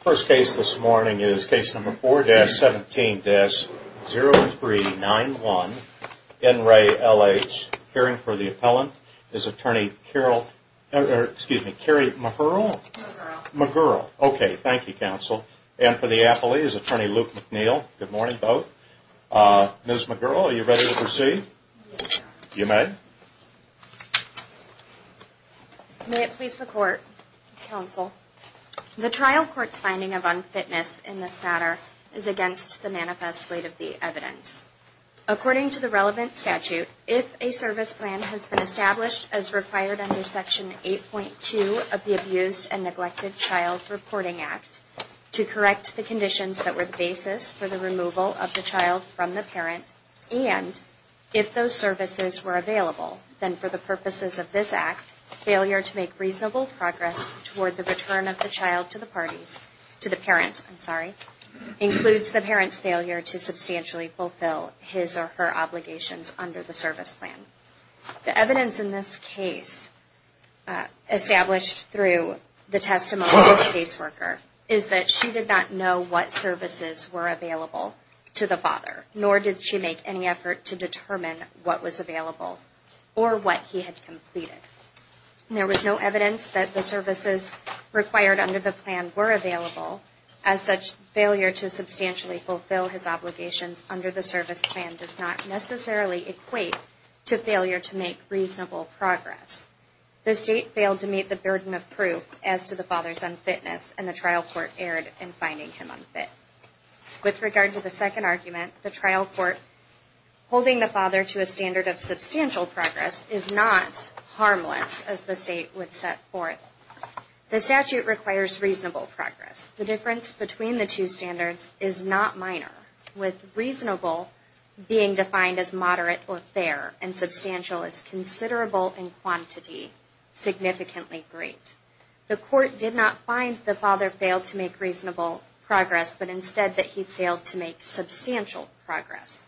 First case this morning is case number 4-17-0391, N. Ray, L.H., hearing for the appellant is Attorney Carol, excuse me, Carrie McGurl, okay, thank you, counsel, and for the appellee is Attorney Luke McNeil, good morning, both, Ms. McGurl, are you ready to proceed? You may. May it please the court, counsel, the trial court's finding of unfitness in this matter is against the manifest weight of the evidence. According to the relevant statute, if a service plan has been established as required under section 8.2 of the Abused and Neglected Child Reporting Act to correct the conditions that were the basis for the removal of the child from the parent and if those services were available, then for the purposes of this act, failure to make reasonable progress toward the return of the child to the parties, to the parent, I'm sorry, includes the parent's failure to substantially fulfill his or her obligations under the service plan. The evidence in this case established through the testimony of the caseworker is that she did not know what services were available to the father, nor did she make any effort to determine what was available or what he had completed. There was no evidence that the services required under the plan were available, as such failure to substantially fulfill his obligations under the service plan does not necessarily equate to failure to make reasonable progress. The state failed to meet the burden of proof as to the father's unfitness, and the trial court erred in finding him unfit. With regard to the second argument, the trial court holding the father to a standard of substantial progress is not harmless, as the state would set forth. The statute requires reasonable progress. The difference between the two standards is not minor, with reasonable being defined as moderate or fair, and substantial as considerable in quantity, significantly great. The court did not find the father failed to make reasonable progress, but instead that he failed to make substantial progress.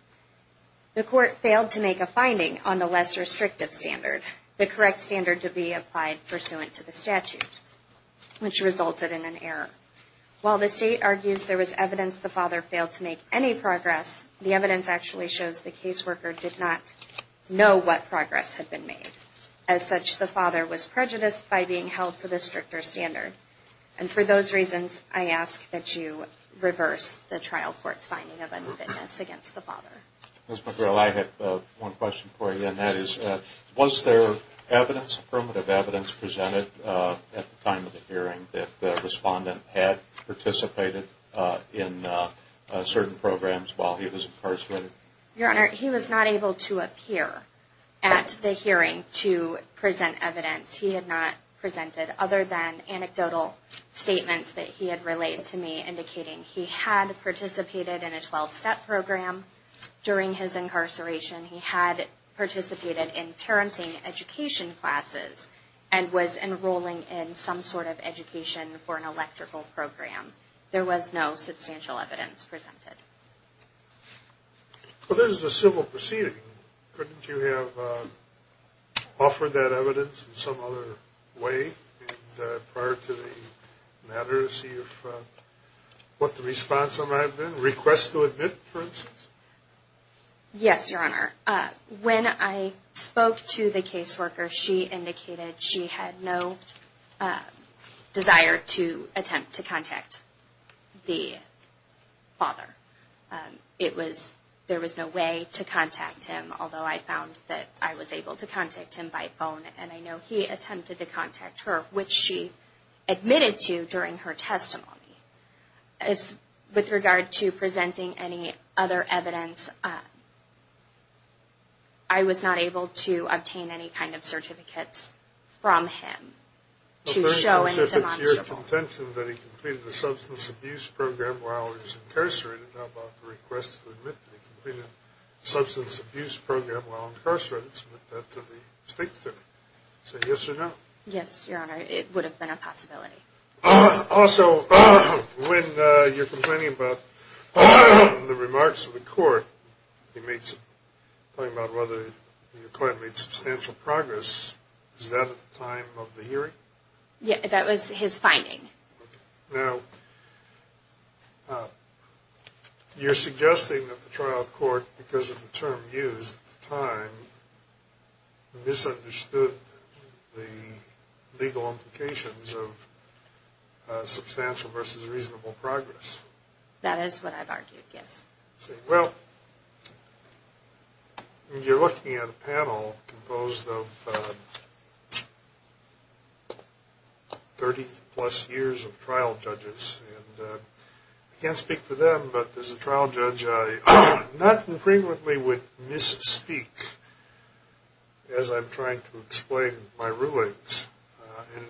The court failed to make a finding on the less restrictive standard, the correct standard to be applied pursuant to the statute, which resulted in an error. While the state argues there was evidence the father failed to make any progress, the evidence actually shows the caseworker did not know what progress had been made. As such, the father was prejudiced by being held to the stricter standard. And for those reasons, I ask that you reverse the trial court's finding of unfitness against the father. Ms. McGreal, I have one question for you, and that is, was there evidence, affirmative evidence, presented at the time of the hearing that the respondent had participated in certain programs while he was incarcerated? Your Honor, he was not able to appear at the hearing to present evidence. He had not presented other than anecdotal statements that he had relayed to me, indicating he had participated in a 12-step program during his incarceration. He had participated in parenting education classes and was enrolling in some sort of education for an electrical program. There was no substantial evidence presented. Well, this is a civil proceeding. Couldn't you have offered that evidence in some other way prior to the matter to see if what the response might have been, request to admit, for instance? Yes, Your Honor. When I spoke to the caseworker, she indicated she had no desire to attempt to contact the father. It was, there was no way to contact him, although I found that I was able to contact him by phone, and I know he attempted to contact her, which she admitted to during her testimony. With regard to presenting any other evidence, I was not able to obtain any kind of certificates from him to show any demonstrable... Yes, Your Honor, it would have been a possibility. Also, when you're complaining about the remarks of the court, you made, talking about whether your client made substantial progress, was that at the time of the hearing? Yes, that was his finding. Now, you're suggesting that the trial court, because of the term used at the time, misunderstood the legal implications of substantial versus reasonable progress. That is what I've argued, yes. Well, you're looking at a panel composed of 30-plus years of trial judges, and I can't speak for them, but as a trial judge, I not infrequently would misspeak as I'm trying to explain my rulings, and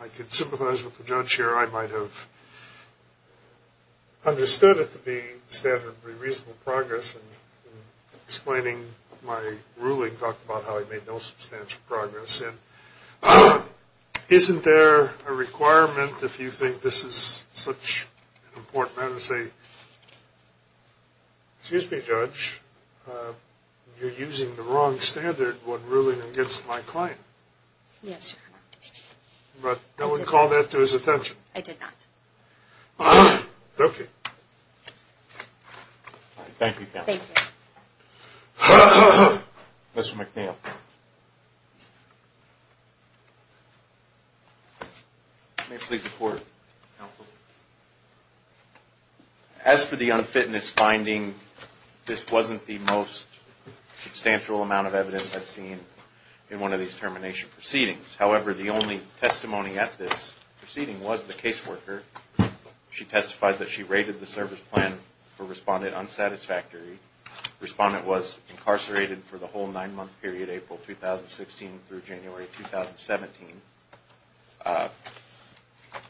I could sympathize with the judge here, I might have understood it to be standard for reasonable progress, and explaining my ruling talked about how he made no substantial progress. Isn't there a requirement, if you think this is such an important matter, to say, excuse me, judge, you're using the wrong standard when ruling against my client? Yes, Your Honor. But no one called that to his attention? I did not. Okay. Thank you, counsel. Thank you. Mr. McNeil. As for the unfitness finding, this wasn't the most substantial amount of evidence I've seen in one of these termination proceedings. However, the only testimony at this proceeding was the caseworker. She testified that she raided the service plan for Respondent Unsatisfactory. Respondent was incarcerated for the whole nine-month period, April 2016 through January 2017.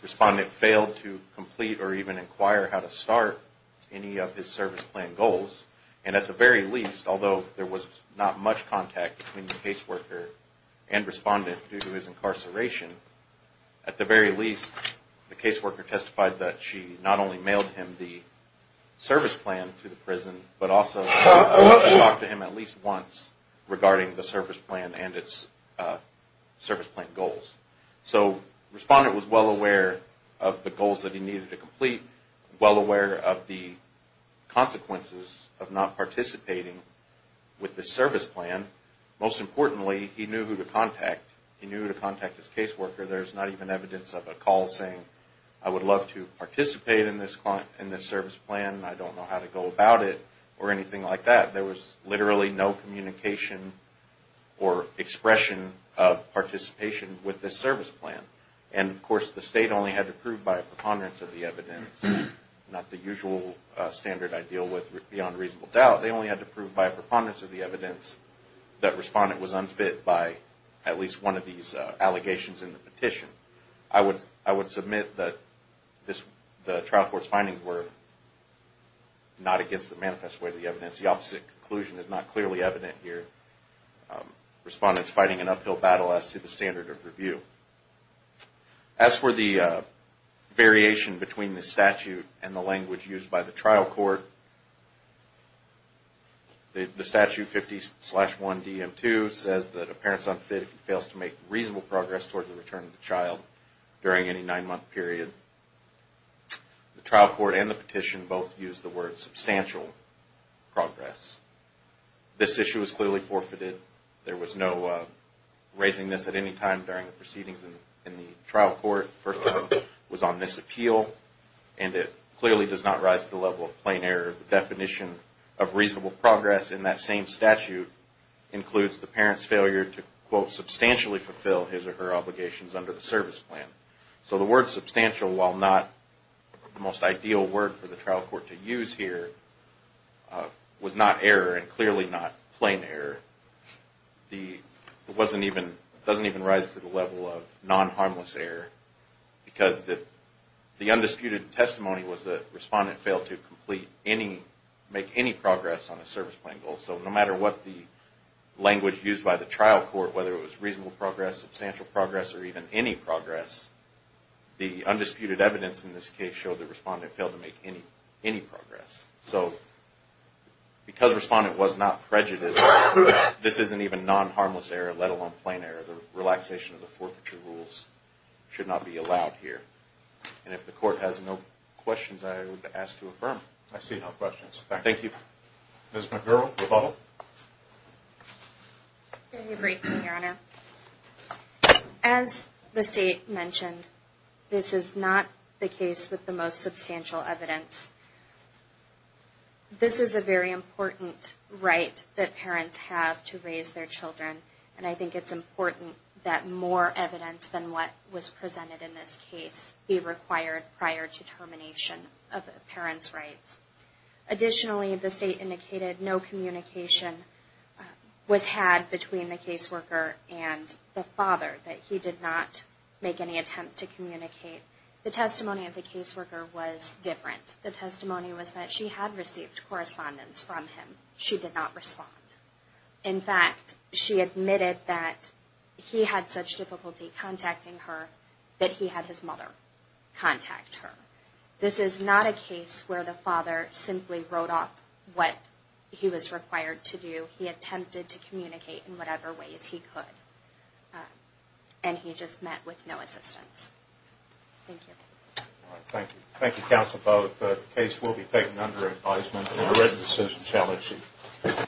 Respondent failed to complete or even inquire how to start any of his service plan goals, and at the very least, although there was not much contact between the caseworker and his incarceration, at the very least, the caseworker testified that she not only mailed him the service plan to the prison, but also talked to him at least once regarding the service plan and its service plan goals. So Respondent was well aware of the goals that he needed to complete, well aware of the consequences of not participating with the service plan. Most importantly, he knew who to contact. He knew who to contact his caseworker. There's not even evidence of a call saying, I would love to participate in this service plan, I don't know how to go about it, or anything like that. There was literally no communication or expression of participation with the service plan. And of course, the State only had to prove by a preponderance of the evidence, not the usual standard I deal with beyond reasonable doubt. They only had to prove by a preponderance of the evidence that Respondent was unfit by at least one of these allegations in the petition. I would submit that the trial court's findings were not against the manifest way of the evidence. The opposite conclusion is not clearly evident here. Respondent's fighting an uphill battle as to the standard of review. As for the variation between the statute and the language used by the trial court, the statute 50-1DM2 says that a parent's unfit if he fails to make reasonable progress towards the return of the child during any nine-month period. The trial court and the petition both use the word substantial progress. This issue is clearly forfeited. There was no raising this at any time during the proceedings in the trial court. The first time was on misappeal, and it clearly does not rise to the level of plain error. The definition of reasonable progress in that same statute includes the parent's failure to, quote, substantially fulfill his or her obligations under the service plan. So the word substantial, while not the most ideal word for the trial court to use here, was not error and clearly not plain error. It doesn't even rise to the level of non-harmless error, because the undisputed testimony was that the respondent failed to make any progress on a service plan goal. So no matter what the language used by the trial court, whether it was reasonable progress, substantial progress, or even any progress, the undisputed evidence in this case clearly showed the respondent failed to make any progress. So because the respondent was not prejudiced, this isn't even non-harmless error, let alone plain error. The relaxation of the forfeiture rules should not be allowed here. And if the court has no questions, I would ask to affirm. I see no questions. Thank you. Ms. McGurk, rebuttal. I agree, Your Honor. As the State mentioned, this is not the case with the most substantial evidence. This is a very important right that parents have to raise their children, and I think it's important that more evidence than what was presented in this case be required prior to termination of a parent's rights. Additionally, the State indicated no communication was had between the caseworker and the father, that he did not make any attempt to communicate. The testimony of the caseworker was different. The testimony was that she had received correspondence from him. She did not respond. In fact, she admitted that he had such difficulty contacting her that he had his mother contact her. This is not a case where the father simply wrote off what he was required to do. He attempted to communicate in whatever ways he could, and he just met with no assistance. Thank you. Thank you. Thank you, Counsel Bowe. The case will be taken under advisement in the written decision challenge sheet.